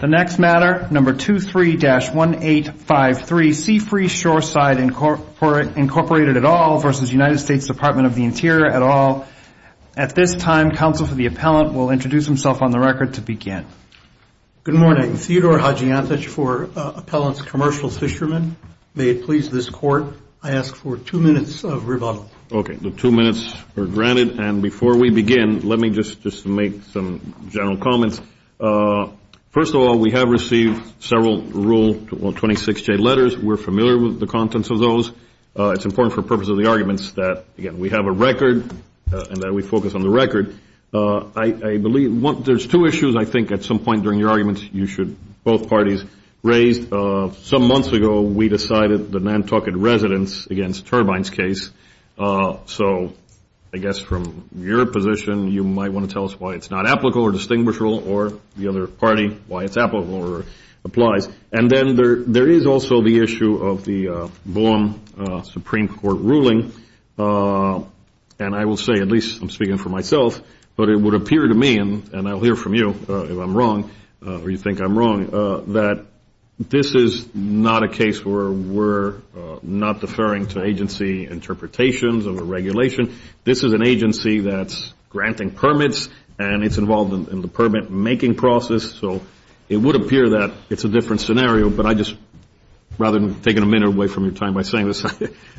The next matter, number 23-1853, Seafreeze Shoreside, Incorporated, et al. v. United States Department of the Interior, et al. At this time, counsel for the appellant will introduce himself on the record to begin. Good morning. Theodore Hadjiantich for Appellant's Commercial Fishermen. May it please this court, I ask for two minutes of rebuttal. Okay, the two minutes are granted. And before we begin, let me just make some general comments. First of all, we have received several Rule 26J letters. We're familiar with the contents of those. It's important for the purpose of the arguments that, again, we have a record and that we focus on the record. I believe there's two issues I think at some point during your arguments you should, both parties, raise. Some months ago, we decided the Nantucket residents against turbines case. So I guess from your position, you might want to tell us why it's not applicable or distinguishable, or the other party, why it's applicable or applies. And then there is also the issue of the Blum Supreme Court ruling, and I will say, at least I'm speaking for myself, but it would appear to me, and I'll hear from you if I'm wrong or you think I'm wrong, that this is not a case where we're not deferring to agency interpretations of a regulation. This is an agency that's granting permits, and it's involved in the permit-making process. So it would appear that it's a different scenario, but I just, rather than taking a minute away from your time by saying this,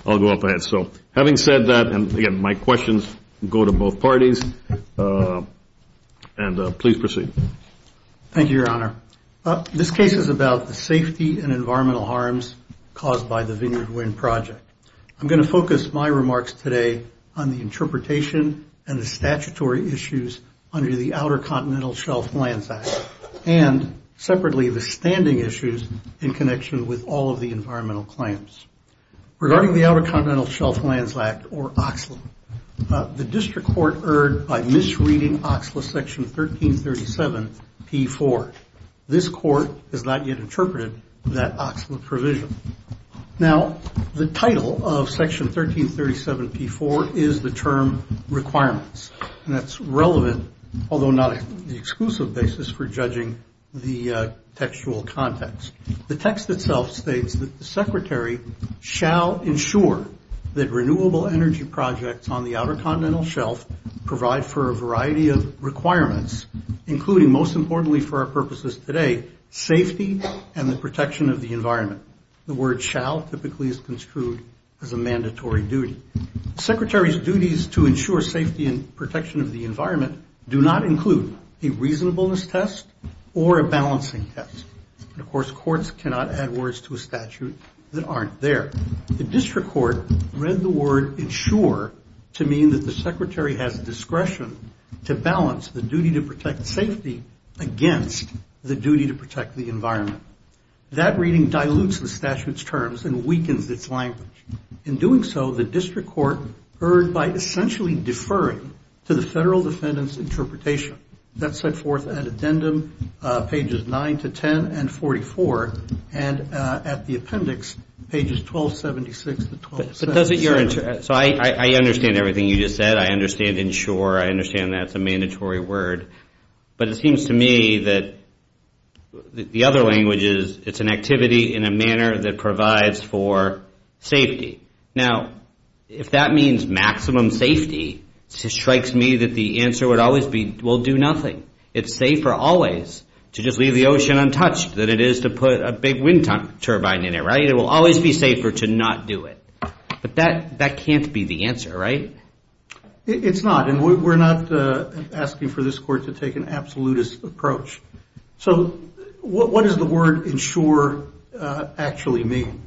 I'll go up ahead. So having said that, and again, my questions go to both parties, and please proceed. Thank you, Your Honor. This case is about the safety and environmental harms caused by the Vineyard Wind Project. I'm going to focus my remarks today on the interpretation and the statutory issues under the Outer Continental Shelf Lands Act, and separately, the standing issues in connection with all of the environmental claims. Regarding the Outer Continental Shelf Lands Act, or OCSLA, the district court erred by misreading OCSLA Section 1337-P4. This court has not yet interpreted that OCSLA provision. Now, the title of Section 1337-P4 is the term requirements, and that's relevant, although not the exclusive basis for judging the textual context. The text itself states that the Secretary shall ensure that renewable energy projects on the Outer Continental Shelf provide for a variety of requirements, including, most importantly for our purposes today, safety and the protection of the environment. The word shall typically is construed as a mandatory duty. Secretary's duties to ensure safety and protection of the environment do not include a reasonableness test or a balancing test. Of course, courts cannot add words to a statute that aren't there. The district court read the word ensure to mean that the Secretary has discretion to balance the duty to protect safety against the duty to protect the environment. That reading dilutes the statute's terms and weakens its language. In doing so, the district court erred by essentially deferring to the federal defendant's interpretation. That's set forth at addendum pages 9 to 10 and 44, and at the appendix pages 1276 to 1277. So I understand everything you just said. I understand ensure. I understand that's a mandatory word. But it seems to me that the other language is it's an activity in a manner that provides for safety. Now, if that means maximum safety, it strikes me that the answer would always be we'll do nothing. It's safer always to just leave the ocean untouched than it is to put a big wind turbine in it, right? It will always be safer to not do it. But that can't be the answer, right? It's not, and we're not asking for this court to take an absolutist approach. So what does the word ensure actually mean?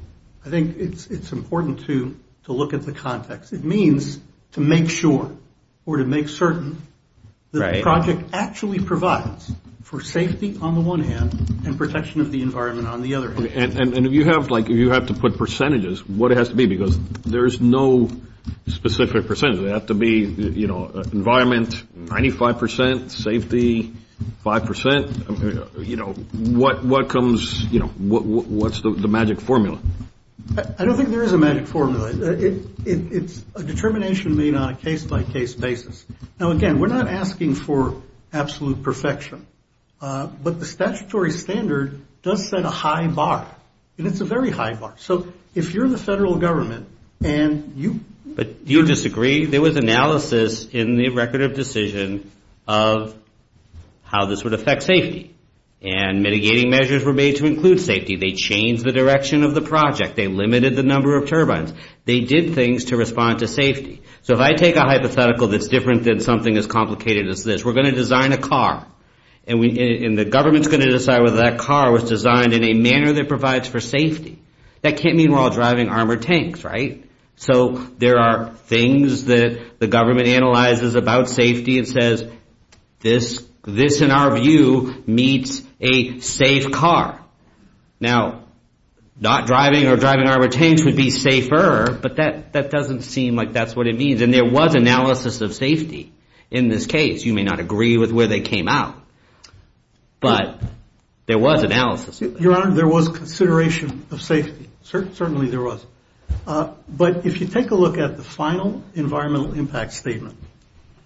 I think it's important to look at the context. It means to make sure or to make certain that the project actually provides for safety on the one hand and protection of the environment on the other hand. And if you have to put percentages, what it has to be, because there's no specific percentage. Does it have to be, you know, environment, 95 percent, safety, five percent? You know, what comes, you know, what's the magic formula? I don't think there is a magic formula. It's a determination made on a case-by-case basis. Now, again, we're not asking for absolute perfection, but the statutory standard does set a high bar, and it's a very high bar. So if you're in the federal government and you... But do you disagree? There was analysis in the record of decision of how this would affect safety, and mitigating measures were made to include safety. They changed the direction of the project. They limited the number of turbines. They did things to respond to safety. So if I take a hypothetical that's different than something as complicated as this, we're going to design a car, and the government's going to decide whether that car was designed in a manner that provides for safety. That can't mean we're all driving armored tanks, right? So there are things that the government analyzes about safety and says, this, in our view, meets a safe car. Now, not driving or driving armored tanks would be safer, but that doesn't seem like that's what it means. And there was analysis of safety in this case. You may not agree with where they came out, but there was analysis. Your Honor, there was consideration of safety. Certainly there was. But if you take a look at the final environmental impact statement,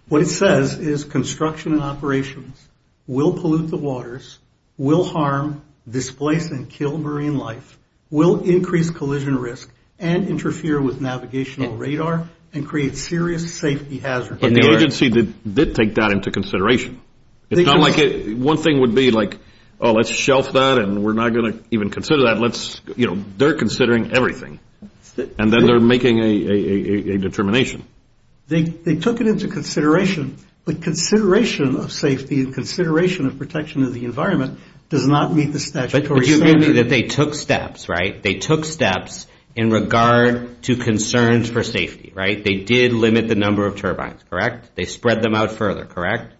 what it says is construction and operations will pollute the waters, will harm, displace, and kill marine life, will increase collision risk, and interfere with navigational radar, and create serious safety hazards. But the agency did take that into consideration. It's not like one thing would be like, oh, let's shelf that, and we're not going to even consider that. Let's, you know, they're considering everything. And then they're making a determination. They took it into consideration. But consideration of safety and consideration of protection of the environment does not meet the statutory standard. But you agree that they took steps, right? They took steps in regard to concerns for safety, right? They did limit the number of turbines, correct? They spread them out further, correct?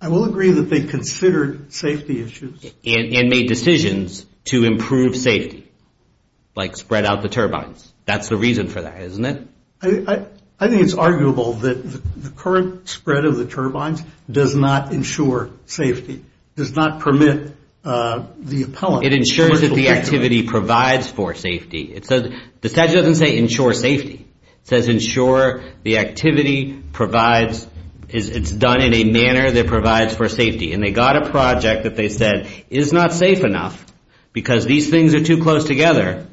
I will agree that they considered safety issues. And made decisions to improve safety, like spread out the turbines. That's the reason for that, isn't it? I think it's arguable that the current spread of the turbines does not ensure safety, does not permit the appellant. It ensures that the activity provides for safety. It says, the statute doesn't say ensure safety. It says ensure the activity provides, it's done in a manner that provides for safety. And they got a project that they said is not safe enough because these things are too close together.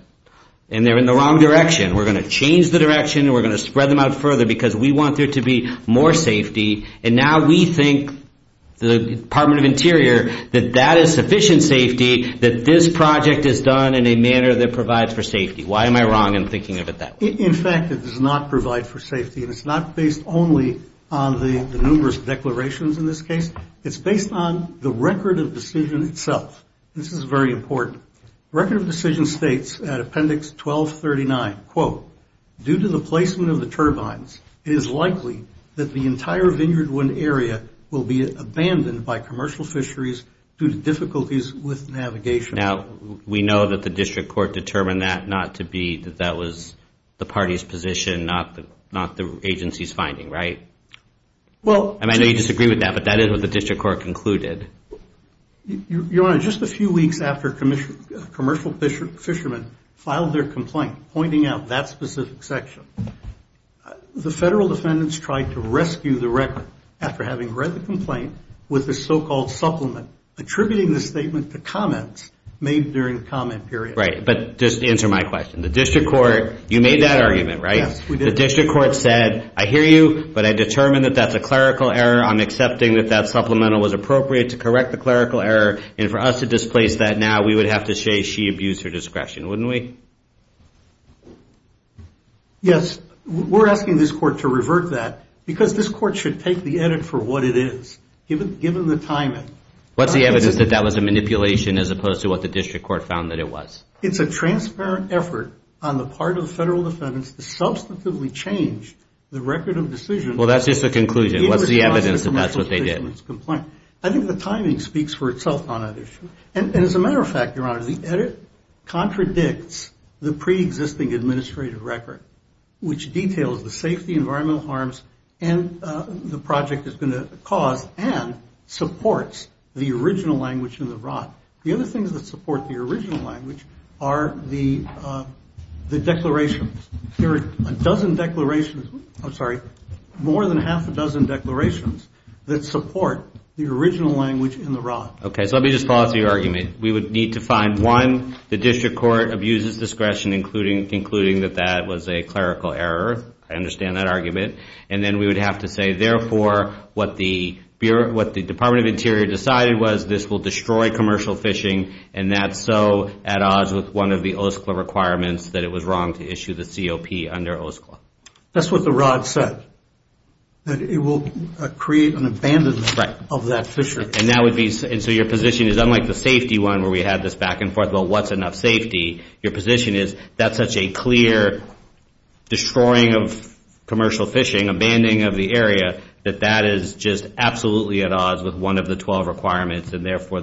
And they're in the wrong direction. We're going to change the direction. We're going to spread them out further because we want there to be more safety. And now we think, the Department of Interior, that that is sufficient safety, that this project is done in a manner that provides for safety. Why am I wrong in thinking of it that way? In fact, it does not provide for safety. And it's not based only on the numerous declarations in this case. It's based on the record of decision itself. This is very important. Record of decision states at appendix 1239, quote, due to the placement of the turbines, it is likely that the entire Vineyard One area will be abandoned by commercial fisheries due to difficulties with navigation. Now, we know that the district court determined that not to be, that that was the party's position, not the agency's finding, right? Well, I know you disagree with that, but that is what the district court concluded. Your Honor, just a few weeks after commercial fishermen filed their complaint, pointing out that specific section, the federal defendants tried to rescue the record after having read the complaint with the so-called supplement, attributing the statement to comments made during the comment period. Right, but just answer my question. The district court, you made that argument, right? The district court said, I hear you, but I determined that that's a clerical error. I'm accepting that that supplemental was appropriate to correct the clerical error. And for us to displace that now, we would have to say she abused her discretion, wouldn't we? Yes, we're asking this court to revert that because this court should take the edit for what it is, given the timing. What's the evidence that that was a manipulation as opposed to what the district court found that it was? It's a transparent effort on the part of the federal defendants to substantively change the record of decision. Well, that's just a conclusion. What's the evidence that that's what they did? I think the timing speaks for itself on that issue. And as a matter of fact, Your Honor, the edit contradicts the pre-existing administrative record, which details the safety, environmental harms, and the project is going to cause and supports the original language in the rod. The other things that support the original language are the declarations. There are a dozen declarations, I'm sorry, more than half a dozen declarations that support the original language in the rod. Okay, so let me just follow through your argument. We would need to find, one, the district court abuses discretion, including that that was a clerical error. I understand that argument. And then we would have to say, therefore, what the Department of Interior decided was this will destroy commercial fishing, and that's so at odds with one of the OSCLA requirements that it was wrong to issue the COP under OSCLA. That's what the rod said, that it will create an abandonment of that fishery. And that would be, and so your position is, unlike the safety one where we had this back and forth about what's enough safety, your position is that's such a clear destroying of commercial fishing, abandoning of the area, that that is just absolutely at odds with one of the 12 requirements, and therefore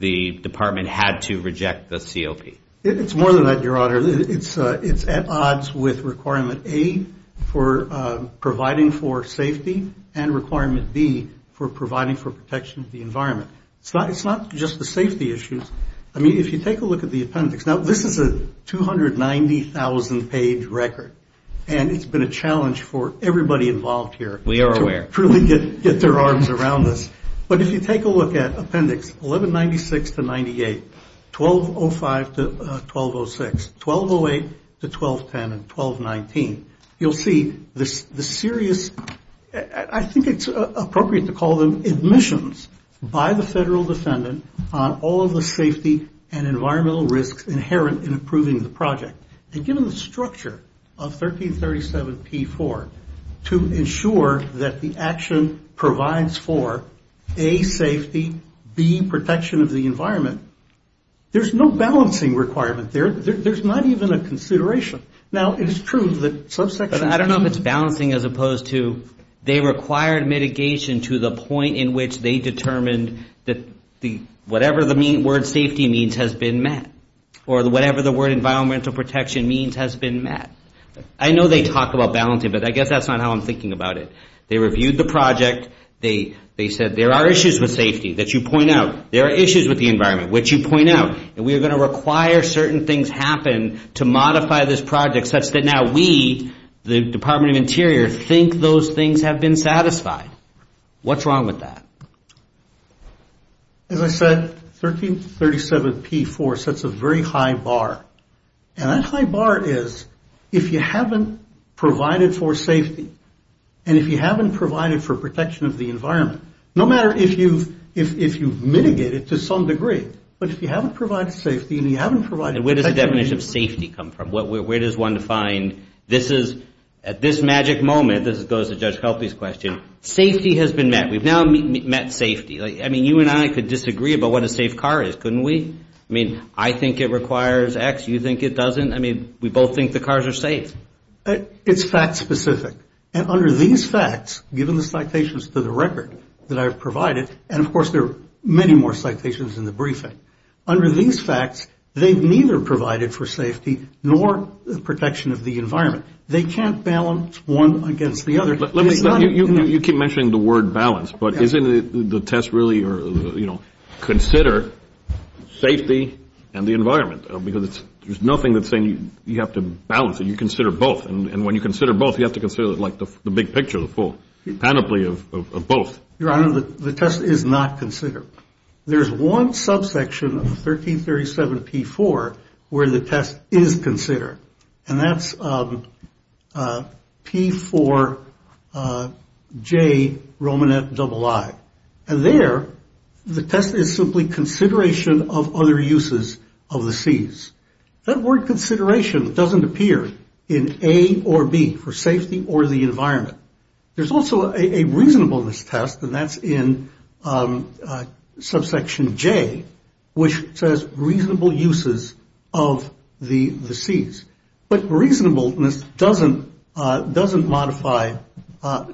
the department had to reject the COP. It's more than that, Your Honor. It's at odds with requirement A for providing for safety and requirement B for providing for protection of the environment. It's not just the safety issues. I mean, if you take a look at the appendix. Now, this is a 290,000 page record, and it's been a challenge for everybody involved here. We are aware. To really get their arms around this. But if you take a look at appendix 1196 to 98, 1205 to 1206, 1208 to 1210 and 1219, you'll see the serious, I think it's appropriate to call them admissions by the federal defendant on all of the safety and environmental risks inherent in approving the project. And given the structure of 1337 P4, to ensure that the action provides for A, safety, B, protection of the environment, there's no balancing requirement there. There's not even a consideration. Now, it is true that subsection... But I don't know if it's balancing as opposed to they required mitigation to the point in which they determined that whatever the word safety means has been met. Or whatever the word environmental protection means has been met. I know they talk about balancing, but I guess that's not how I'm thinking about it. They reviewed the project. They said there are issues with safety that you point out. There are issues with the environment, which you point out. And we are going to require certain things happen to modify this project such that now we, the Department of Interior, think those things have been satisfied. What's wrong with that? As I said, 1337 P4 sets a very high bar. And that high bar is if you haven't provided for safety, and if you haven't provided for protection of the environment, no matter if you've mitigated to some degree, but if you haven't provided safety and you haven't provided... And where does the definition of safety come from? Where does one define, this is, at this magic moment, this goes to Judge Helpe's question, safety has been met. We've now met safety. I mean, you and I could disagree about what a safe car is, couldn't we? I mean, I think it requires X, you think it doesn't. I mean, we both think the cars are safe. It's fact specific. And under these facts, given the citations to the record that I've provided, and of course, there are many more citations in the briefing. Under these facts, they've neither provided for safety nor the protection of the environment. They can't balance one against the other. Let me, you keep mentioning the word balance, but isn't the test really, you know, consider safety and the environment? Because there's nothing that's saying you have to balance it. You consider both. And when you consider both, you have to consider it like the big picture, the full panoply of both. Your Honor, the test is not considered. There's one subsection of 1337 P4 where the test is considered. And that's P4J Romanet III. And there, the test is simply consideration of other uses of the Cs. That word consideration doesn't appear in A or B, for safety or the environment. There's also a reasonableness test, and that's in subsection J, which says reasonable uses of the Cs. But reasonableness doesn't modify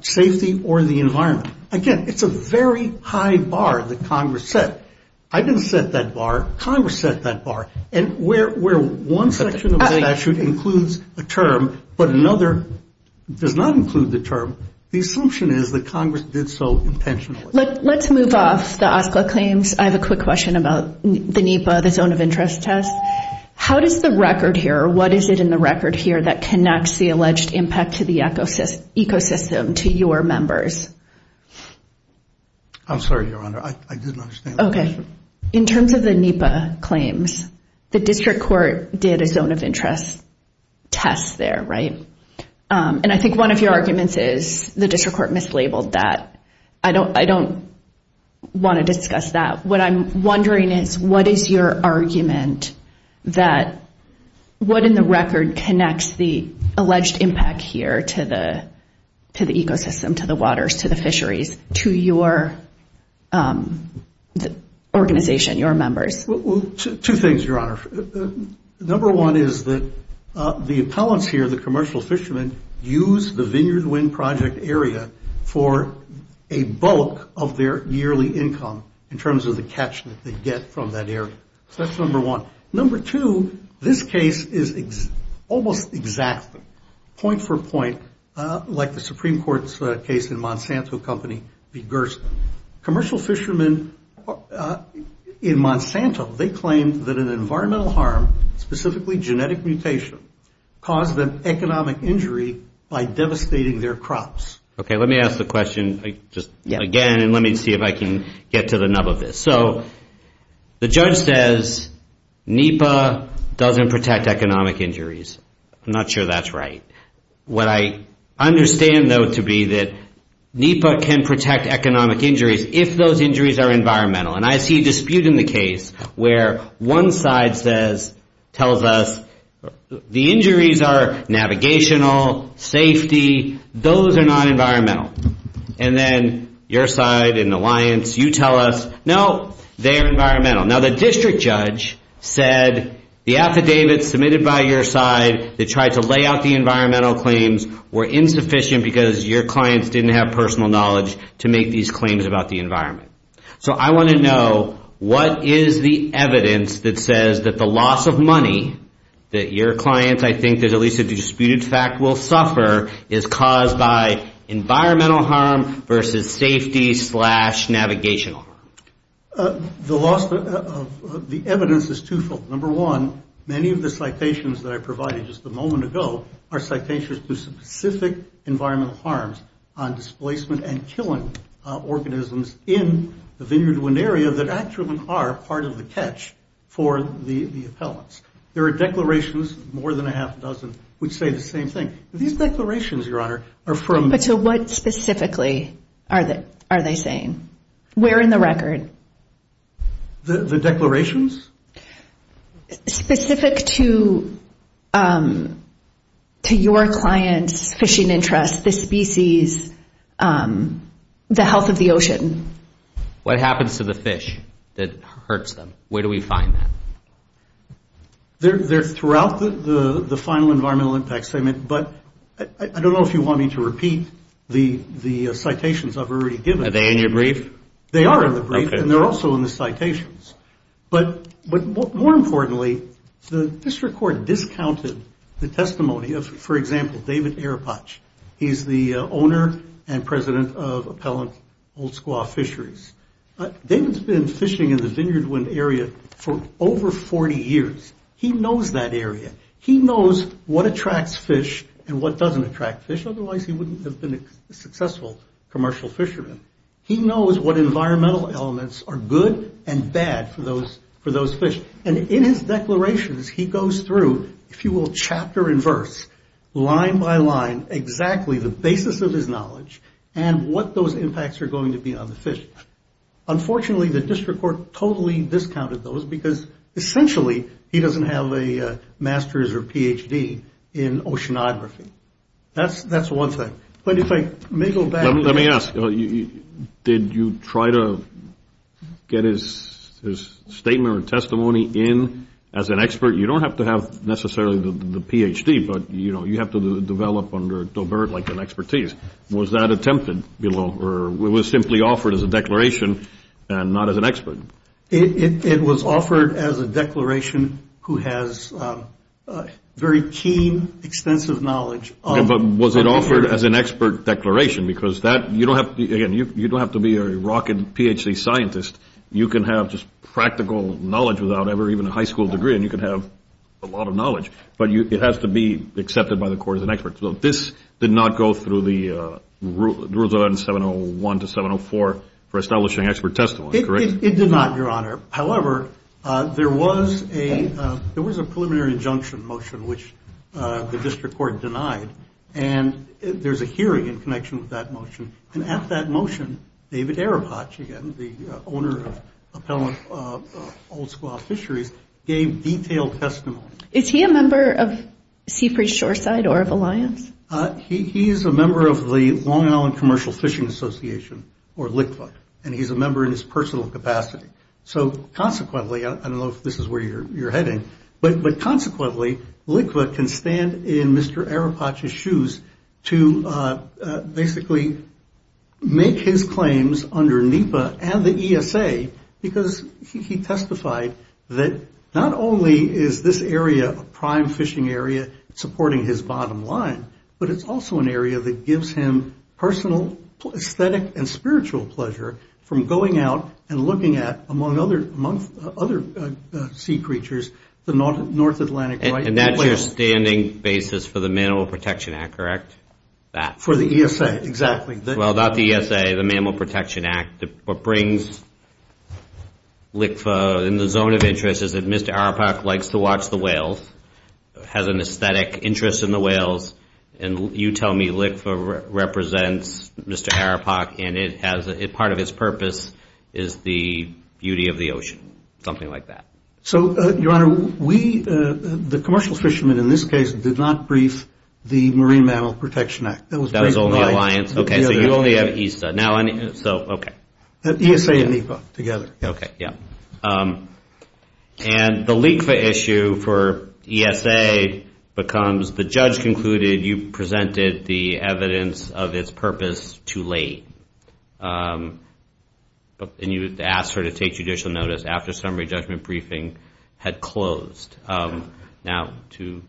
safety or the environment. Again, it's a very high bar that Congress set. I didn't set that bar. Congress set that bar. And where one section of the statute includes a term, but another does not include the term, the assumption is that Congress did so intentionally. Let's move off the OSCA claims. I have a quick question about the NEPA, the zone of interest test. How does the record here, or what is it in the record here that connects the alleged impact to the ecosystem to your members? I'm sorry, Your Honor, I didn't understand. Okay. In terms of the NEPA claims, the district court did a zone of interest test there, right? And I think one of your arguments is the district court mislabeled that. I don't want to discuss that. What I'm wondering is what is your argument that what in the record connects the alleged impact here to the ecosystem, to the waters, to the fisheries, to your organization, your members? Well, two things, Your Honor. Number one is that the appellants here, the commercial fishermen, use the Vineyard Wind Project area for a bulk of their yearly income in terms of the catch that they get from that area. So that's number one. Number two, this case is almost exactly point for point, like the Supreme Court's case in Monsanto Company v. Gerson. Commercial fishermen in Monsanto, they claimed that an environmental harm, specifically genetic mutation, caused them economic injury by devastating their crops. Okay, let me ask the question just again, and let me see if I can get to the nub of this. So the judge says NEPA doesn't protect economic injuries. I'm not sure that's right. What I understand, though, to be that NEPA can protect economic injuries if those injuries are environmental. And I see a dispute in the case where one side tells us the injuries are navigational, safety, those are not environmental. And then your side, an alliance, you tell us, no, they're environmental. Now, the district judge said the affidavits submitted by your side that tried to lay out the environmental claims were insufficient because your clients didn't have personal knowledge to make these claims about the environment. So I want to know, what is the evidence that says that the loss of money that your clients, I think there's at least a disputed fact, will suffer is caused by environmental harm versus safety slash navigational? The loss of the evidence is twofold. Number one, many of the citations that I provided just a moment ago are citations to specific environmental harms on displacement and killing organisms in the Vineyard Wind Area that actually are part of the catch for the appellants. There are declarations, more than a half a dozen, which say the same thing. These declarations, Your Honor, are from... But to what specifically are they saying? Where in the record? The declarations? Specific to your client's fishing interest, the species, the health of the ocean. What happens to the fish that hurts them? Where do we find that? They're throughout the final environmental impact statement, but I don't know if you want me to repeat the citations I've already given. Are they in your brief? They are in the brief, and they're also in the citations. But more importantly, the district court discounted the testimony of, for example, David Arapach. He's the owner and president of Appellant Old Squaw Fisheries. David's been fishing in the Vineyard Wind Area for over 40 years. He knows that area. He knows what attracts fish and what doesn't attract fish, otherwise he wouldn't have been a successful commercial fisherman. He knows what environmental elements are good and bad for those fish. And in his declarations, he goes through, if you will, chapter and verse, line by line, exactly the basis of his knowledge and what those impacts are going to be on the fish. Unfortunately, the district court totally discounted those because essentially he doesn't have a master's or PhD in oceanography. That's one thing. But if I may go back... Let me ask, did you try to get his statement or testimony in as an expert? You don't have to have necessarily the PhD, but you have to develop under Dobert like an expertise. Was that attempted below or was it simply offered as a declaration and not as an expert? It was offered as a declaration who has very keen, extensive knowledge of... Was it offered as an expert declaration? Because you don't have to be a rocket PhD scientist. You can have just practical knowledge without ever even a high school degree and you can have a lot of knowledge. But it has to be accepted by the court as an expert. So this did not go through the rules of 701 to 704 for establishing expert testimony, correct? It did not, Your Honor. However, there was a preliminary injunction motion which the district court denied. And there's a hearing in connection with that motion. And at that motion, David Arapache, again, the owner of Appellant Old Squaw Fisheries, gave detailed testimony. Is he a member of Seapreach Shoreside or of Alliance? He is a member of the Long Island Commercial Fishing Association, or LCCFA. And he's a member in his personal capacity. So consequently, I don't know if this is where you're heading, but consequently, LCCFA can stand in Mr. Arapache's shoes to basically make his claims under NEPA and the ESA because he testified that not only is this area a prime fishing area supporting his bottom line, but it's also an area that gives him personal aesthetic and spiritual pleasure from going out and looking at, among other sea creatures, the North Atlantic right whale. And that's your standing basis for the Mammal Protection Act, correct? That. For the ESA, exactly. Well, not the ESA, the Mammal Protection Act. What brings LCCFA in the zone of interest is that Mr. Arapache likes to watch the whales, has an aesthetic interest in the whales. And you tell me LCCFA represents Mr. Arapache and part of his purpose is the beauty of the ocean, something like that. So, Your Honor, we, the commercial fishermen in this case, did not brief the Marine Mammal Protection Act. That was only Alliance. OK, so you only have ESA. Now, so, OK. ESA and NEPA together. OK, yeah. And the LCCFA issue for ESA becomes the judge concluded you presented the evidence of its purpose too late. And you asked her to take judicial notice after summary judgment briefing had closed. Now, to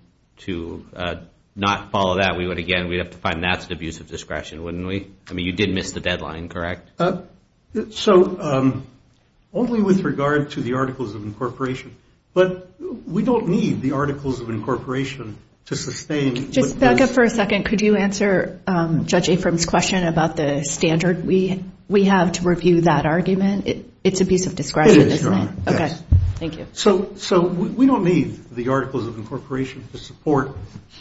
not follow that, we would, again, we'd have to find that's an abuse of discretion, wouldn't we? I mean, you did miss the deadline, correct? So, only with regard to the Articles of Incorporation. But we don't need the Articles of Incorporation to sustain. Just back up for a second. Could you answer Judge Afram's question about the standard we have to review that argument? It's an abuse of discretion, isn't it? Thank you. So, we don't need the Articles of Incorporation to support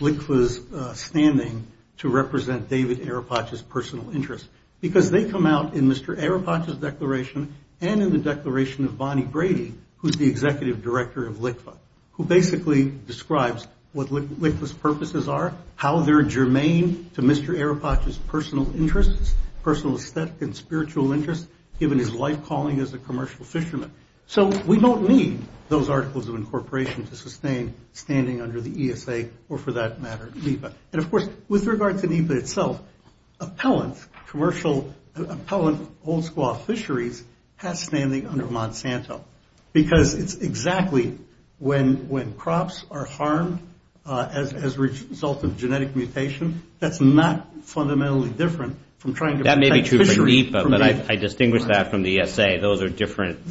LCCFA's standing to represent David Arapache's personal interests. Because they come out in Mr. Arapache's declaration and in the declaration of Bonnie Brady, who's the executive director of LCCFA, who basically describes what LCCFA's purposes are, how they're germane to Mr. Arapache's personal interests, personal aesthetic and spiritual interests, given his life calling as a commercial fisherman. So, we don't need those Articles of Incorporation to sustain standing under the ESA, or for that matter, NEPA. And of course, with regard to NEPA itself, appellant commercial, appellant old squaw fisheries has standing under Monsanto. Because it's exactly when crops are harmed as a result of genetic mutation, that's not fundamentally different from trying to protect fisheries. That may be true for NEPA, but I distinguish that from the ESA. Those are different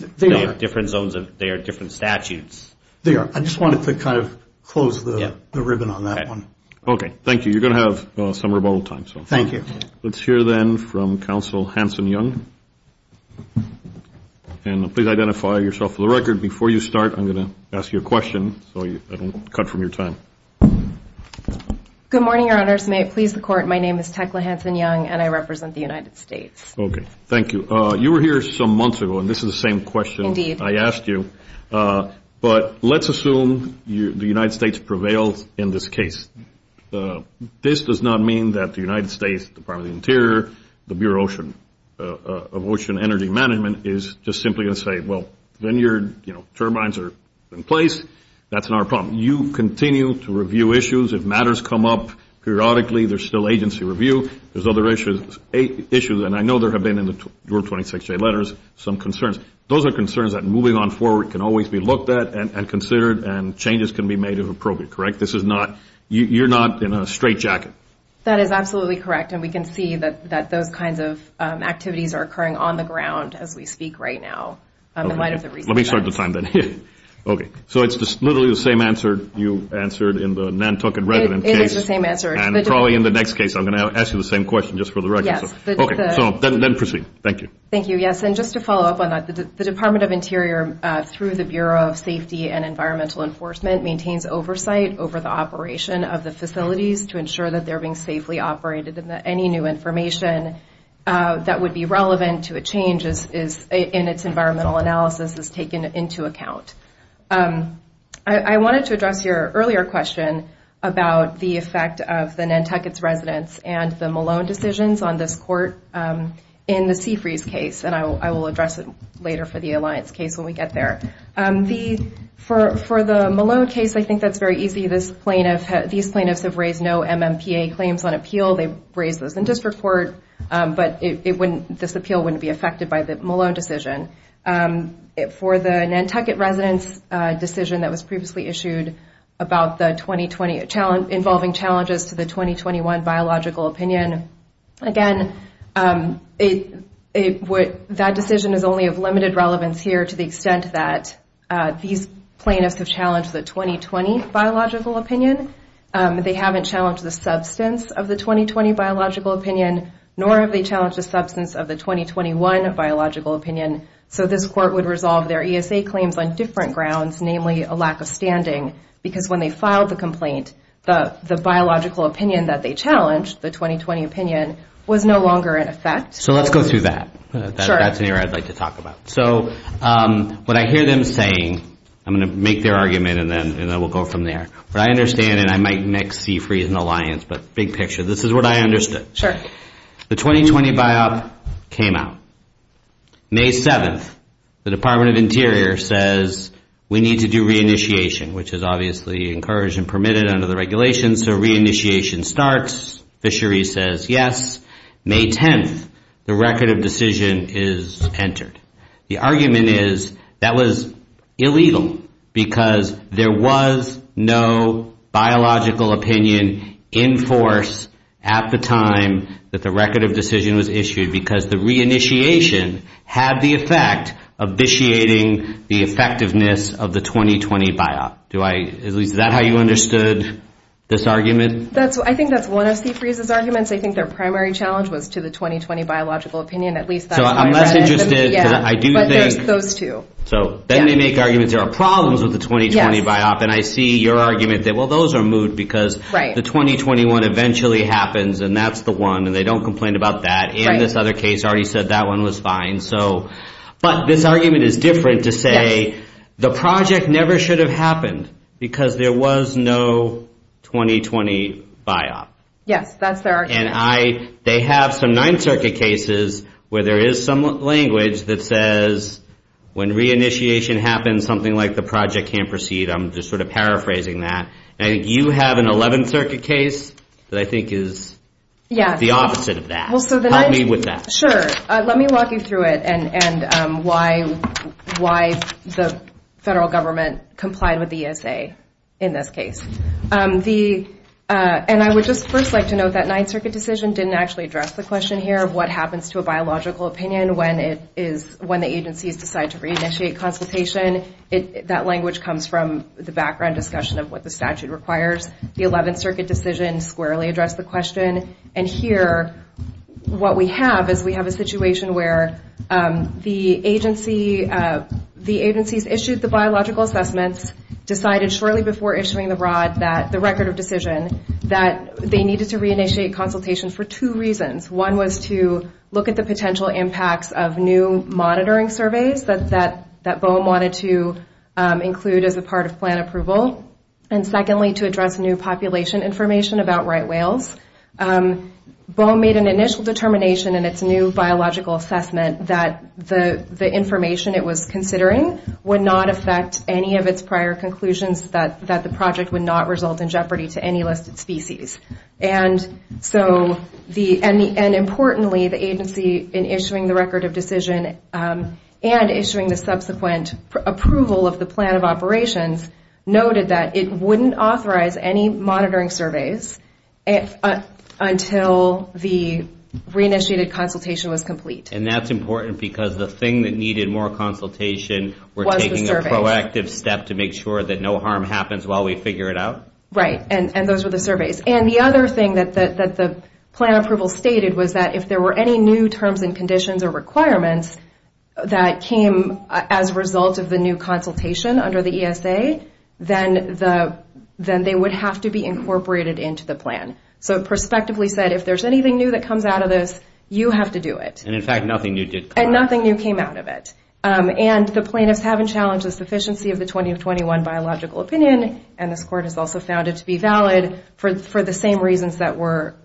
zones of, they are different statutes. They are. I just wanted to kind of close the ribbon on that one. Okay. Thank you. You're going to have some rebuttal time. Thank you. Let's hear then from Counsel Hanson Young. And please identify yourself for the record. Before you start, I'm going to ask you a question, so I don't cut from your time. Good morning, Your Honors. May it please the Court. My name is Tecla Hanson Young, and I represent the United States. Okay. Thank you. You were here some months ago, and this is the same question I asked you. But let's assume the United States prevailed in this case. This does not mean that the United States Department of the Interior, the Bureau of Ocean Energy Management, is just simply going to say, well, when your turbines are in place, that's not a problem. You continue to review issues. If matters come up periodically, there's still agency review. There's other issues. And I know there have been, in your 26-day letters, some concerns. Those are concerns that, moving on forward, can always be looked at and considered, and changes can be made if appropriate, correct? This is not, you're not in a straight jacket. That is absolutely correct. We can see that those kinds of activities are occurring on the ground as we speak right now. Let me start the time, then. Okay. So it's literally the same answer you answered in the Nantucket resident case. It is the same answer. And probably in the next case, I'm going to ask you the same question, just for the record. Yes. Okay. So then proceed. Thank you. Thank you. Yes. And just to follow up on that, the Department of Interior, through the Bureau of Safety and Environmental Enforcement, maintains oversight over the operation of the facilities to ensure that they're being safely operated and that any new information that would be relevant to a change in its environmental analysis is taken into account. I wanted to address your earlier question about the effect of the Nantucket's residents and the Malone decisions on this court in the Seafreeze case. And I will address it later for the Alliance case when we get there. For the Malone case, I think that's very easy. These plaintiffs have raised no MMPA claims on appeal. They've raised those in district court. But this appeal wouldn't be affected by the Malone decision. For the Nantucket residents decision that was previously issued about the 2020 involving challenges to the 2021 biological opinion, again, that decision is only of limited relevance here to the extent that these plaintiffs have challenged the 2020 biological opinion. They haven't challenged the substance of the 2020 biological opinion, nor have they challenged the substance of the 2021 biological opinion. So this court would resolve their ESA claims on different grounds, namely a lack of standing, because when they filed the complaint, the biological opinion that they challenged, the 2020 opinion, was no longer in effect. So let's go through that. That's an area I'd like to talk about. So what I hear them saying, I'm going to make their argument, and then we'll go from there. What I understand, and I might mix Seafreeze and the Alliance, but big picture. This is what I understood. The 2020 biop came out. May 7th, the Department of Interior says, we need to do reinitiation, which is obviously encouraged and permitted under the regulations. So reinitiation starts. Fisheries says yes. May 10th, the record of decision is entered. The argument is that was illegal, because there was no biological opinion in force at the time that the record of decision was issued, because the reinitiation had the effect of vitiating the effectiveness of the 2020 biop. Do I, is that how you understood this argument? I think that's one of Seafreeze's arguments. I think their primary challenge was to the 2020 biological opinion. So I'm less interested, because I do think... But there's those two. So then they make arguments, there are problems with the 2020 biop. And I see your argument that, well, those are moot, because the 2021 eventually happens, and that's the one, and they don't complain about that. And this other case already said that one was fine. But this argument is different to say, the project never should have happened, because there was no 2020 biop. Yes, that's their argument. They have some Ninth Circuit cases where there is some language that says, when reinitiation happens, something like the project can't proceed. I'm just sort of paraphrasing that. And I think you have an Eleventh Circuit case that I think is the opposite of that. Help me with that. Sure. Let me walk you through it, and why the federal government complied with the ESA in this case. The... And I would just first like to note that Ninth Circuit decision didn't actually address the question here of what happens to a biological opinion when the agencies decide to reinitiate consultation. That language comes from the background discussion of what the statute requires. The Eleventh Circuit decision squarely addressed the question. And here, what we have is we have a situation where the agencies issued the biological assessments, decided shortly before issuing the record of decision that they needed to reinitiate consultation for two reasons. One was to look at the potential impacts of new monitoring surveys that BOEM wanted to include as a part of plan approval. And secondly, to address new population information about right whales. BOEM made an initial determination in its new biological assessment that the information it was considering would not affect any of its prior conclusions that the project would not result in jeopardy to any listed species. And so, and importantly, the agency in issuing the record of decision and issuing the subsequent approval of the plan of operations noted that it wouldn't authorize any monitoring surveys until the reinitiated consultation was complete. And that's important because the thing that needed more consultation were taking a proactive step to make sure that no harm happens while we figure it out? Right. And those were the surveys. And the other thing that the plan approval stated was that if there were any new terms and conditions or requirements that came as a result of the new consultation under the ESA, then they would have to be incorporated into the plan. So, prospectively said, if there's anything new that comes out of this, you have to do it. And in fact, nothing new did come out. And nothing new came out of it. And the plaintiffs haven't challenged the sufficiency of the 2021 biological opinion. And this court has also found it to be valid for the same reasons that were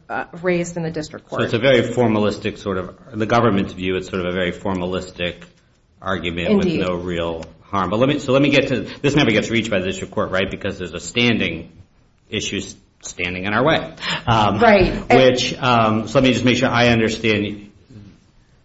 raised in the district court. So it's a very formalistic sort of, in the government's view, it's sort of a very formalistic argument with no real harm. But let me, so let me get to, this never gets reached by the district court, right? Because there's a standing issues standing in our way. Right. Which, so let me just make sure I understand.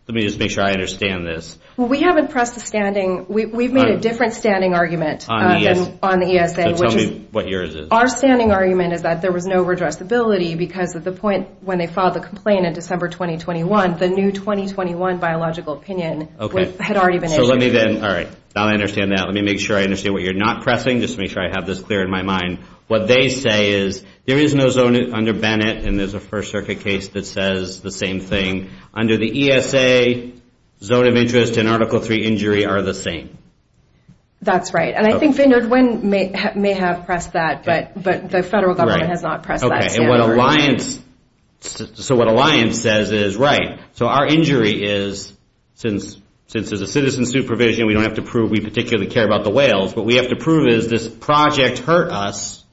Let me just make sure I understand this. Well, we haven't pressed the standing. We've made a different standing argument on the ESA. So tell me what yours is. Our standing argument is that there was no redressability because at the point when they filed the complaint in December 2021, the new 2021 biological opinion had already been issued. So let me then, all right, now I understand that. Let me make sure I understand what you're not pressing, just to make sure I have this clear in my mind. What they say is there is no zone under Bennett, and there's a First Circuit case that says the same thing. Under the ESA, zone of interest and Article III injury are the same. That's right. And I think they know when may have pressed that, but the federal government has not pressed that. Okay, and what Alliance, so what Alliance says is, right, so our injury is, since there's a citizen supervision, we don't have to prove we particularly care about the whales. What we have to prove is this project hurt us.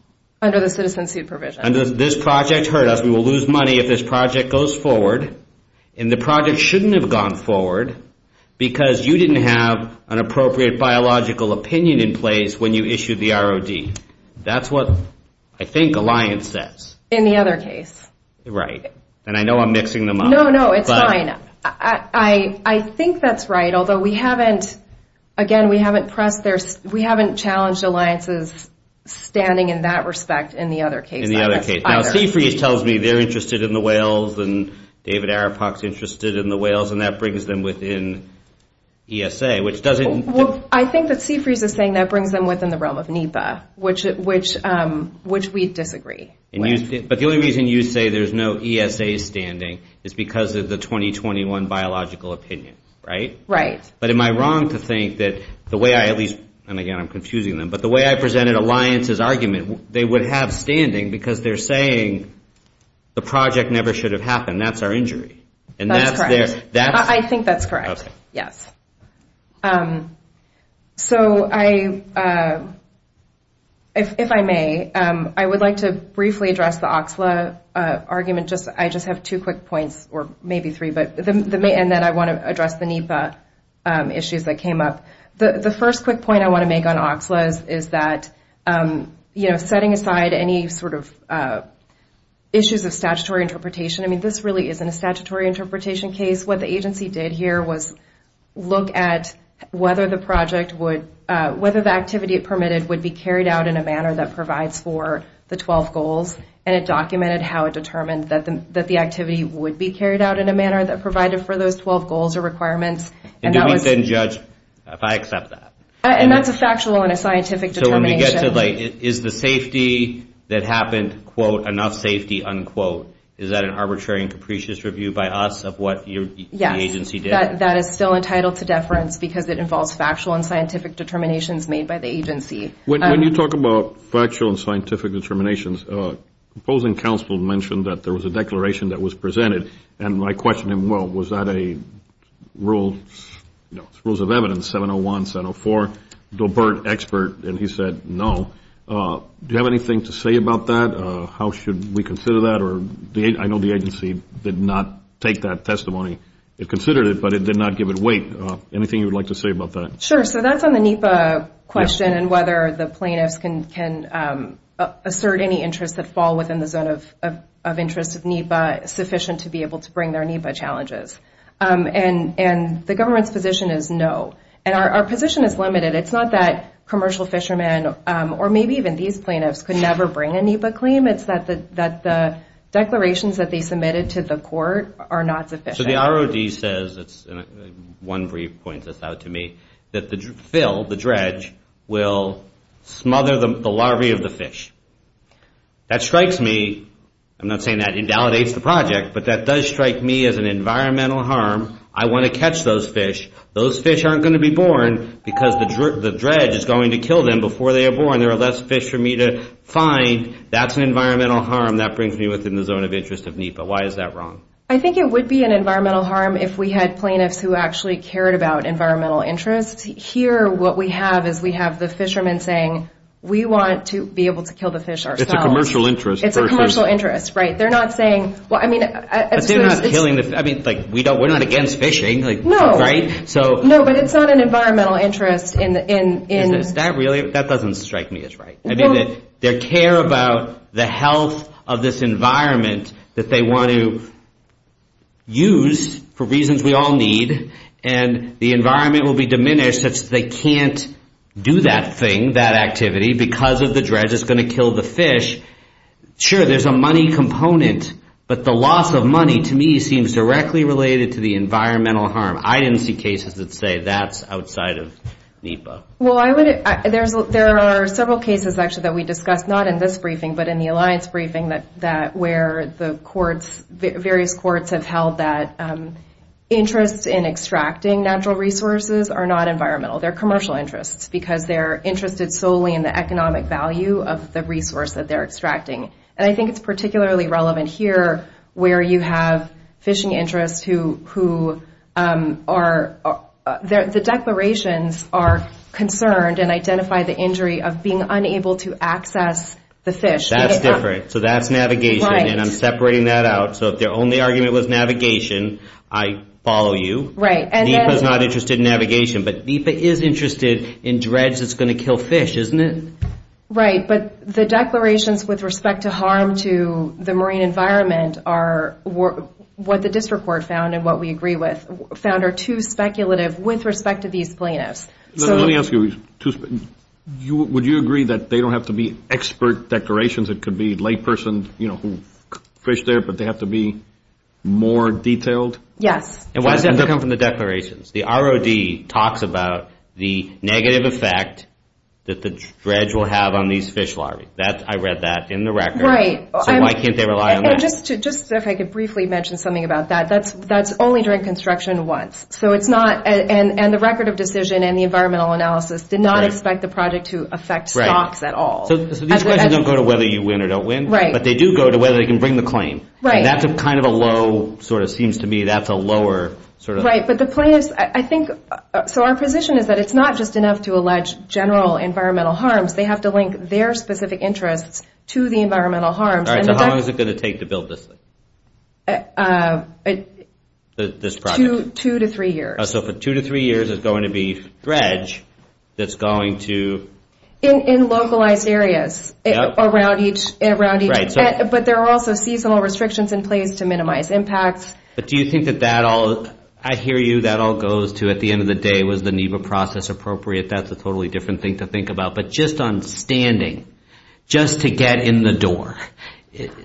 Under the citizen supervision. This project hurt us. We will lose money if this project goes forward. And the project shouldn't have gone forward because you didn't have an appropriate biological opinion in place when you issued the ROD. That's what I think Alliance says. In the other case. Right. And I know I'm mixing them up. No, no, it's fine. I think that's right, although we haven't, again, we haven't pressed, we haven't challenged Alliance's standing in that respect in the other case. In the other case. Now, Seafreeze tells me they're interested in the whales and David Arapak's interested in the whales and that brings them within ESA, which doesn't... I think that Seafreeze is saying that brings them within the realm of NEPA, which we disagree. But the only reason you say there's no ESA standing is because of the 2021 biological opinion, right? Right. But am I wrong to think that the way I at least, and again, I'm confusing them, but the way I presented Alliance's argument, they would have standing because they're saying the project never should have happened. That's our injury. And that's their... I think that's correct. Yes. So I, if I may, I would like to briefly address the OXLA argument. Just, I just have two quick points or maybe three, and then I want to address the NEPA issues that came up. The first quick point I want to make on OXLA is that, setting aside any sort of issues of statutory interpretation, I mean, this really isn't a statutory interpretation case. What the agency did here was look at whether the project would, whether the activity it permitted would be carried out in a manner that provides for the 12 goals. And it documented how it determined that the activity would be carried out in a manner that provided for those 12 goals or requirements. And do we then judge if I accept that? And that's a factual and a scientific determination. So when we get to like, is the safety that happened, quote, enough safety, unquote, is that an arbitrary and capricious review by us of what the agency did? That is still entitled to deference because it involves factual and scientific determinations made by the agency. When you talk about factual and scientific determinations, opposing counsel mentioned that there was a declaration that was presented and I questioned him, well, was that a rule, you know, rules of evidence, 701, 704, dobert, expert, and he said, no. Do you have anything to say about that? How should we consider that? Or I know the agency did not take that testimony. It considered it, but it did not give it weight. Anything you would like to say about that? Sure. So that's on the NEPA question and whether the plaintiffs can assert any interests that fall within the zone of interest of NEPA. Is NEPA sufficient to be able to bring their NEPA challenges? And the government's position is no. And our position is limited. It's not that commercial fishermen, or maybe even these plaintiffs, could never bring a NEPA claim. It's that the declarations that they submitted to the court are not sufficient. So the ROD says, and one brief points this out to me, that the fill, the dredge, will smother the larvae of the fish. That strikes me, I'm not saying that invalidates the project, but that does strike me as an environmental harm. I want to catch those fish. Those fish aren't going to be born because the dredge is going to kill them before they are born. There are less fish for me to find. That's an environmental harm. That brings me within the zone of interest of NEPA. Why is that wrong? I think it would be an environmental harm if we had plaintiffs who actually cared about environmental interests. Here, what we have is we have the fishermen saying, we want to be able to kill the fish ourselves. It's a commercial interest. It's a commercial interest, right? They're not saying, well, I mean, But they're not killing the fish. I mean, we're not against fishing, right? No, but it's not an environmental interest. That doesn't strike me as right. I mean, they care about the health of this environment that they want to use for reasons we all need, and the environment will be diminished such that they can't do that thing, that activity, because of the dredge is going to kill the fish. Sure, there's a money component, but the loss of money, to me, seems directly related to the environmental harm. I didn't see cases that say that's outside of NEPA. Well, there are several cases, actually, that we discussed, not in this briefing, but in the alliance briefing, where the various courts have held that interests in extracting natural resources are not environmental. They're commercial interests, because they're interested solely in the economic value of the resource that they're extracting. And I think it's particularly relevant here, where you have fishing interests who are, the declarations are concerned and identify the injury of being unable to access the fish. That's different. So that's navigation, and I'm separating that out. So if their only argument was navigation, I follow you. NEPA's not interested in navigation, but NEPA is interested in dredge that's going to kill fish, isn't it? Right, but the declarations with respect to harm to the marine environment are what the district court found and what we agree with, found are too speculative with respect to these plaintiffs. Would you agree that they don't have to be expert declarations? It could be a layperson who fished there, but they have to be more detailed? Yes. And why does that come from the declarations? The ROD talks about the negative effect that the dredge will have on these fish larvae. I read that in the record. Right. So why can't they rely on that? Just if I could briefly mention something about that. That's only during construction once. So it's not, and the record of decision and the environmental analysis did not expect the project to affect stocks at all. So these questions don't go to whether you win or don't win, but they do go to whether they can bring the claim. Right. That's kind of a low, sort of seems to me that's a lower, sort of. Right. But the plaintiffs, I think, so our position is that it's not just enough to allege general environmental harms. They have to link their specific interests to the environmental harms. All right. So how long is it going to take to build this thing? This project? Two to three years. So for two to three years, it's going to be dredge that's going to. In localized areas around each, but there are also seasonal restrictions in place to minimize impacts. But do you think that that all, I hear you, that all goes to, at the end of the day, was the NEPA process appropriate? That's a totally different thing to think about. But just on standing, just to get in the door.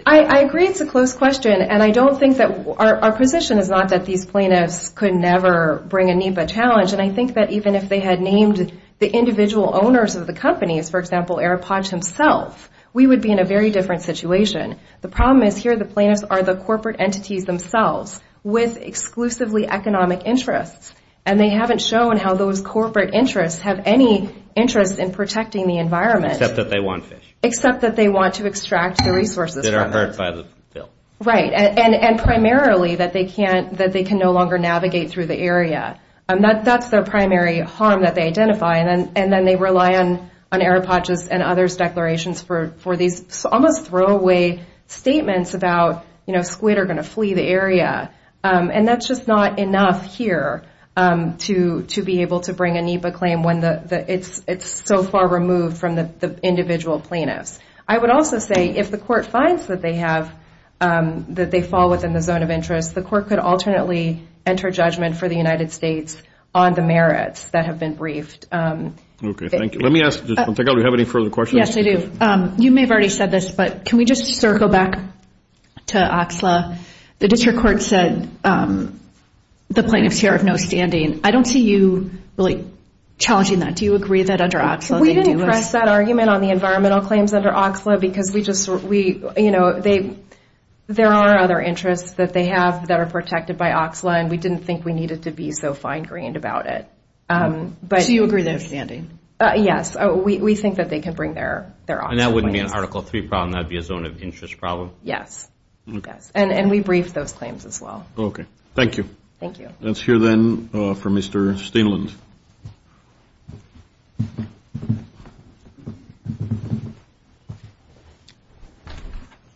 I agree. It's a close question. And I don't think that our position is not that these plaintiffs could never bring a NEPA challenge. And I think that even if they had named the individual owners of the companies, for example, AirPods himself, we would be in a very different situation. The problem is here the plaintiffs are the corporate entities themselves with exclusively economic interests. And they haven't shown how those corporate interests have any interest in protecting the environment. Except that they want fish. Except that they want to extract the resources. That are hurt by the bill. Right. And primarily that they can no longer navigate through the area. That's their primary harm that they identify. And then they rely on AirPods and others declarations for these, almost throwaway statements about, you know, squid are going to flee the area. And that's just not enough here to be able to bring a NEPA claim when it's so far removed from the individual plaintiffs. I would also say if the court finds that they have, that they fall within the zone of interest, the court could alternately enter judgment for the United States on the merits that have been briefed. Okay. Thank you. Let me ask, do you have any further questions? Yes, I do. You may have already said this, but can we just circle back to OXLA? The district court said the plaintiffs here have no standing. I don't see you really challenging that. Do you agree that under OXLA they do? We didn't press that argument on the environmental claims under OXLA because we just, we, you know, they, there are other interests that they have that are protected by OXLA. And we didn't think we needed to be so fine grained about it. But do you agree they're standing? Yes. We think that they can bring their, their options. And that wouldn't be an Article III problem, that would be a zone of interest problem? Yes. Yes. And we briefed those claims as well. Okay. Thank you. Thank you. Let's hear then from Mr. Steenland.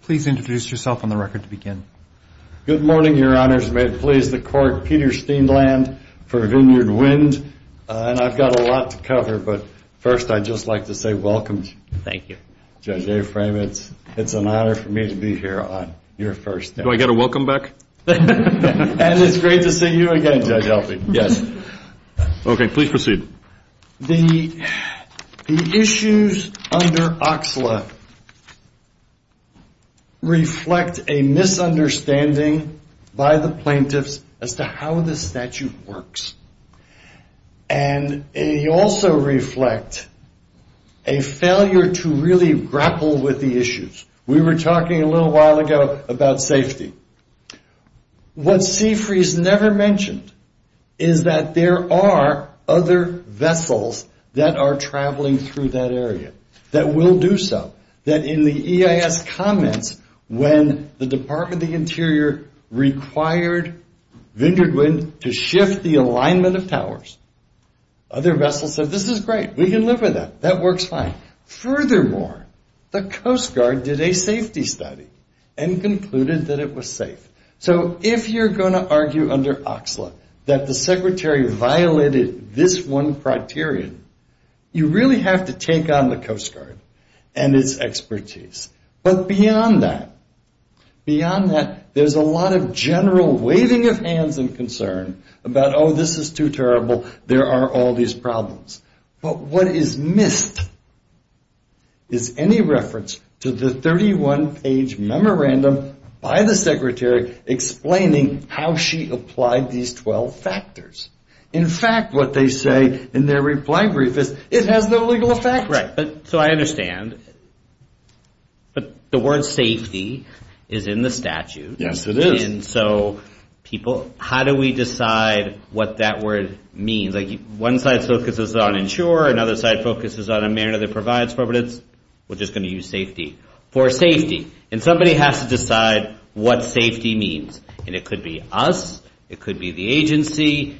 Please introduce yourself on the record to begin. Good morning, your honors. May it please the court. Peter Steenland for Vineyard Wind. And I've got a lot to cover, but first I'd just like to say welcome. Thank you. Judge Aframe, it's an honor for me to be here on your first day. Do I get a welcome back? And it's great to see you again, Judge Elfie. Yes. Okay, please proceed. The issues under OXLA reflect a misunderstanding by the plaintiffs as to how the statute works. And they also reflect a failure to really grapple with the issues. We were talking a little while ago about safety. What Seafree's never mentioned is that there are other vessels that are traveling through that area that will do so. That in the EIS comments, when the Department of the Interior required Vineyard Wind to shift the alignment of towers, other vessels said, this is great. We can live with that. That works fine. Furthermore, the Coast Guard did a safety study and concluded that it was safe. So if you're going to argue under OXLA that the secretary violated this one criterion, you really have to take on the Coast Guard and its expertise. But beyond that, beyond that, there's a lot of general waving of hands and concern about, oh, this is too terrible. There are all these problems. But what is missed is any reference to the 31-page memorandum by the secretary explaining how she applied these 12 factors. In fact, what they say in their reply brief is, it has no legal effect. So I understand. But the word safety is in the statute. Yes, it is. So people, how do we decide what that word means? One side focuses on insure. Another side focuses on a manner that provides for, but we're just going to use safety. For safety. And somebody has to decide what safety means. And it could be us. It could be the agency.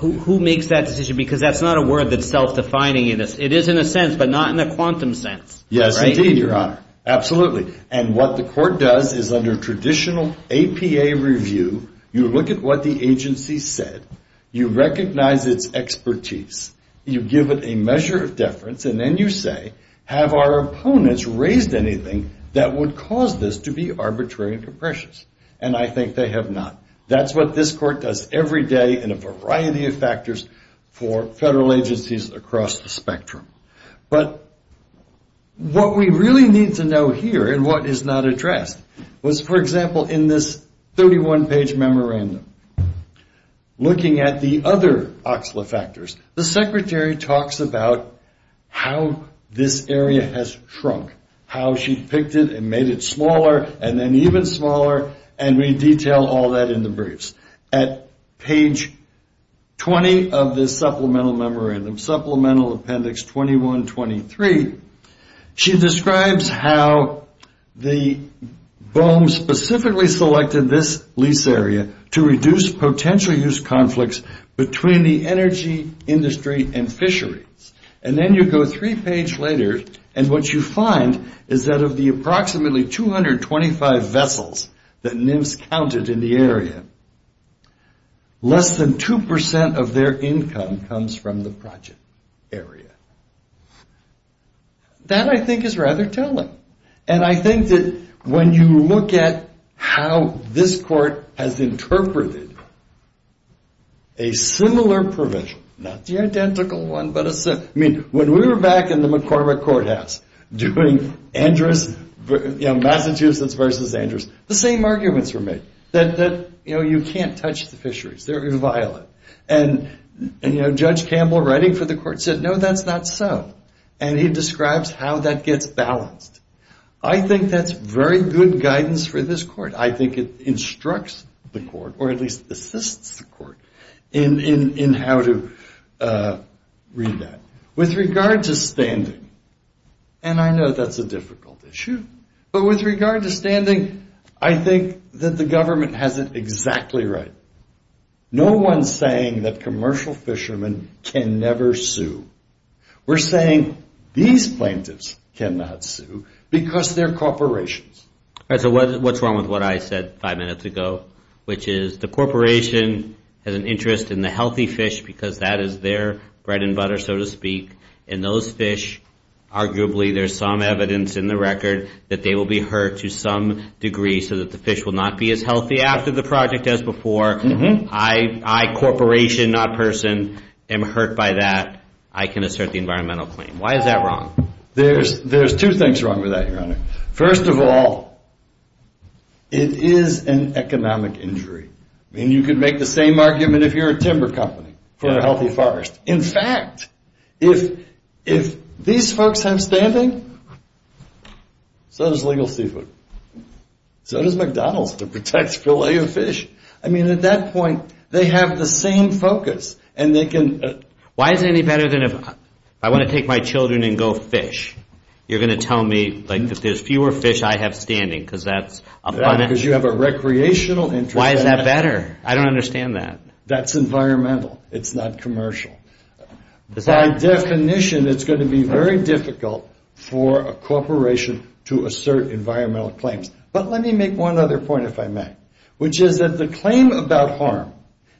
Who makes that decision? Because that's not a word that's self-defining. It is in a sense, but not in a quantum sense. Yes, indeed, Your Honor. Absolutely. And what the court does is under traditional APA review, you look at what the agency said. You recognize its expertise. You give it a measure of deference. And then you say, have our opponents raised anything that would cause this to be arbitrary and capricious? And I think they have not. That's what this court does every day in a variety of factors for federal agencies across the spectrum. But what we really need to know here and what is not addressed was, for example, in this 31-page memorandum, looking at the other OCSLA factors, the secretary talks about how this area has shrunk. How she picked it and made it smaller and then even smaller. And we detail all that in the briefs. At page 20 of this supplemental memorandum, Supplemental Appendix 21-23, she describes how the BOEM specifically selected this lease area to reduce potential use conflicts between the energy industry and fisheries. And then you go three pages later, and what you find is that of the approximately 225 vessels that NIMS counted in the area, less than 2% of their income comes from the project area. That, I think, is rather telling. And I think that when you look at how this court has interpreted a similar provision, not the identical one, but a similar, I mean, when we were back in the McCormick courthouse doing Massachusetts versus Andrews, the same arguments were made. That you can't touch the fisheries. They're violent. And Judge Campbell, writing for the court, said, no, that's not so. And he describes how that gets balanced. I think that's very good guidance for this court. I think it instructs the court, or at least assists the court, in how to read that. With regard to standing, and I know that's a difficult issue, but with regard to standing, I think that the government has it exactly right. No one's saying that commercial fishermen can never sue. We're saying these plaintiffs cannot sue because they're corporations. So what's wrong with what I said five minutes ago, which is the corporation has an interest in the healthy fish because that is their bread and butter, so to speak. And those fish, arguably, there's some evidence in the record that they will be hurt to some degree so that the fish will not be as healthy after the project as before. I, corporation, not person, am hurt by that. I can assert the environmental claim. Why is that wrong? There's two things wrong with that, Your Honor. First of all, it is an economic injury. I mean, you could make the same argument if you're a timber company for a healthy forest. In fact, if these folks have standing, so does Legal Seafood. So does McDonald's that protects filet of fish. I mean, at that point, they have the same focus. And they can- Why is it any better than if I want to take my children and go fish? You're going to tell me that there's fewer fish I have standing because that's- Because you have a recreational interest. Why is that better? I don't understand that. That's environmental. It's not commercial. By definition, it's going to be very difficult for a corporation to assert environmental claims. But let me make one other point, if I may. Which is that the claim about harm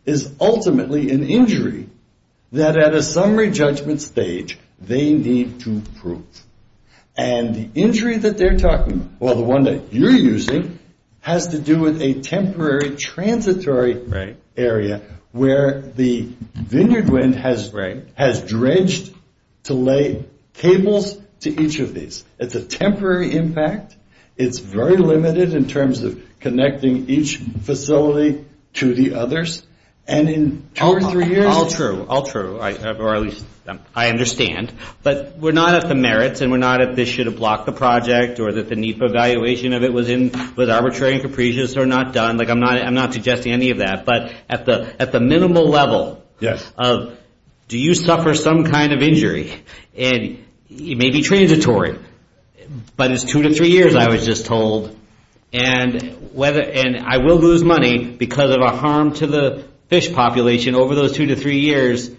is ultimately an injury that at a summary judgment stage, they need to prove. And the injury that they're talking about, well, the one that you're using, has to do with a temporary transitory area where the vineyard wind has dredged to lay cables to each of these. It's a temporary impact. It's very limited in terms of connecting each facility to the others. And in two or three years- All true. All true, or at least I understand. But we're not at the merits, and we're not at this should have blocked the project, or that the need for evaluation of it was arbitrary and capricious, or not done. Like, I'm not suggesting any of that. But at the minimal level of, do you suffer some kind of injury? And it may be transitory. But it's two to three years, I was just told. And I will lose money because of a harm to the fish population over those two to three years.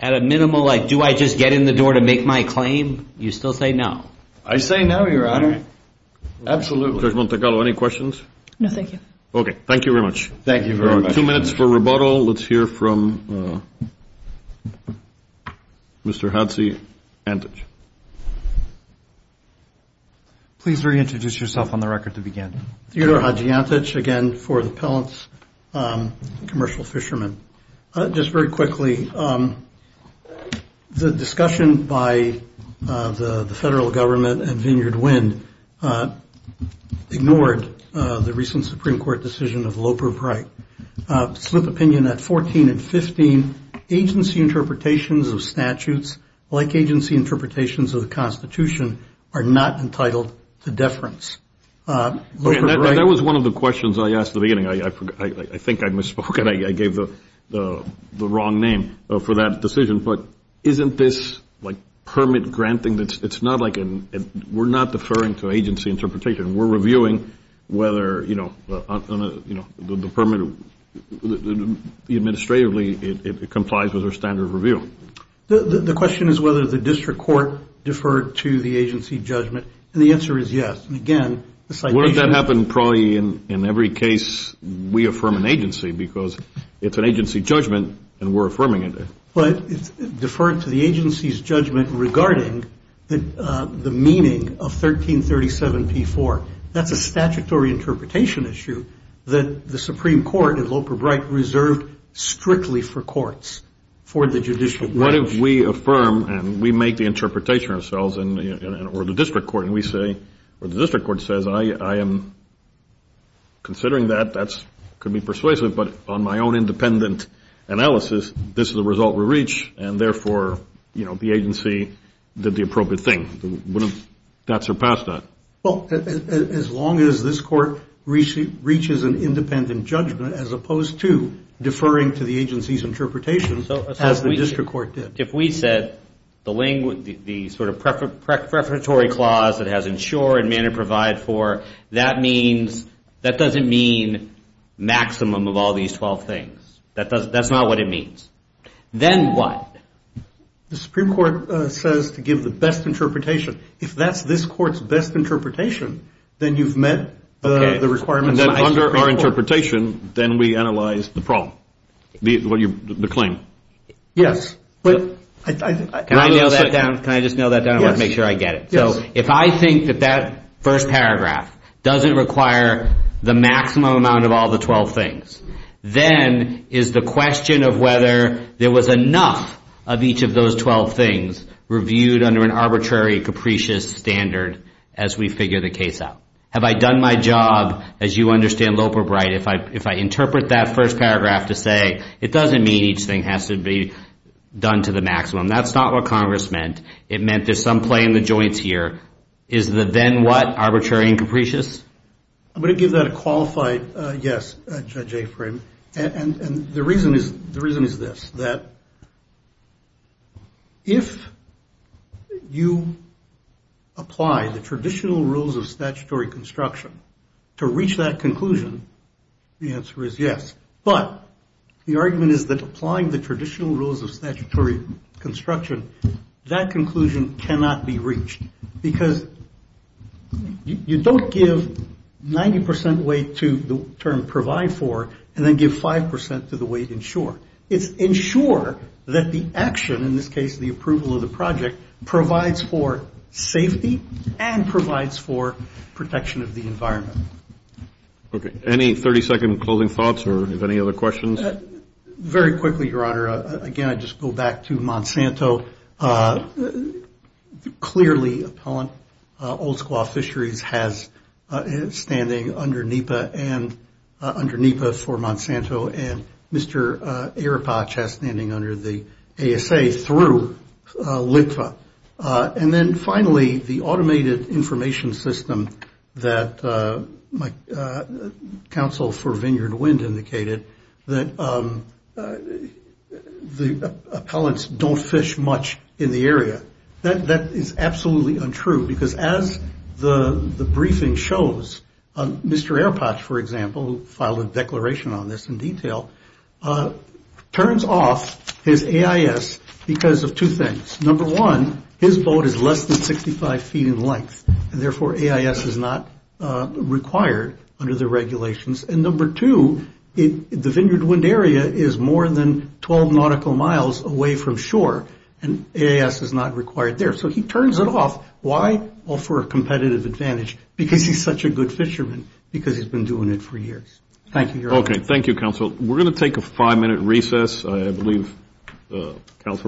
At a minimal, like, do I just get in the door to make my claim? You still say no. I say no, Your Honor. Absolutely. Judge Montecarlo, any questions? No, thank you. Okay, thank you very much. Thank you very much. Two minutes for rebuttal. Let's hear from Mr. Hadji Antic. Please reintroduce yourself on the record to begin. Theodore Hadji Antic, again, for the Pellants Commercial Fishermen. Just very quickly, the discussion by the federal government and Vineyard Wind ignored the recent Supreme Court decision of Loper Bright. Slip of opinion at 14 and 15, agency interpretations of statutes, like agency interpretations of the Constitution, are not entitled to deference. That was one of the questions I asked at the beginning. I think I misspoke. And I gave the wrong name for that decision. But isn't this, like, permit granting? We're not deferring to agency interpretation. We're reviewing whether, you know, the permit, administratively, it complies with our standard of review. The question is whether the district court deferred to the agency judgment. And the answer is yes. And again, the citation- Wouldn't that happen probably in every case we affirm an agency? Because it's an agency judgment, and we're affirming it. But it's deferred to the agency's judgment regarding the meaning of 1337 P4. That's a statutory interpretation issue that the Supreme Court and Loper Bright reserved strictly for courts, for the judicial branch. What if we affirm, and we make the interpretation ourselves, or the district court, and we say, or the district court says, I am considering that. That could be persuasive. But on my own independent analysis, this is the result we reach. And therefore, you know, the agency did the appropriate thing. That surpassed that. Well, as long as this court reaches an independent judgment, as opposed to deferring to the agency's interpretation, as the district court did. If we said the sort of preferentory clause that has ensure and man and provide for, that means, that doesn't mean maximum of all these 12 things. That's not what it means. Then what? The Supreme Court says to give the best interpretation. If that's this court's best interpretation, then you've met the requirements. And then under our interpretation, then we analyze the problem, the claim. Yes. Can I just nail that down? I want to make sure I get it. So if I think that that first paragraph doesn't require the maximum amount of all the 12 things, then is the question of whether there was enough of each of those 12 things reviewed under an arbitrary, capricious standard as we figure the case out. Have I done my job? As you understand, Loper Bright, if I interpret that first paragraph to say, it doesn't mean each thing has to be done to the maximum. That's not what Congress meant. It meant there's some play in the joints here. Is the then what arbitrary and capricious? I'm going to give that a qualified yes, Judge Afrin. And the reason is this. That if you apply the traditional rules of statutory construction to reach that conclusion, the answer is yes. But the argument is that applying the traditional rules of statutory construction, that conclusion cannot be reached because you don't give 90% weight to the term provide for and then give 5% to the weight ensure. It's ensure that the action, in this case, the approval of the project, provides for safety and provides for protection of the environment. Okay. Any 30-second closing thoughts or any other questions? Very quickly, Your Honor. Again, I just go back to Monsanto. Clearly, Appellant Old Squaw Fisheries has standing under NEPA and under NEPA for Monsanto and Mr. Aripach has standing under the ASA through LIPFA. And then finally, the automated information system that my counsel for Vineyard Wind indicated that the appellants don't fish much in the area. That is absolutely untrue because as the briefing shows, Mr. Aripach, for example, filed a declaration on this in detail, turns off his AIS because of two things. Number one, his boat is less than 65 feet in length. And therefore, AIS is not required under the regulations. And number two, the Vineyard Wind area is more than 12 nautical miles away from shore and AIS is not required there. So he turns it off. Why? Well, for a competitive advantage because he's such a good fisherman because he's been doing it for years. Thank you, Your Honor. Okay. Thank you, counsel. We're going to take a five-minute recess. I believe counsel.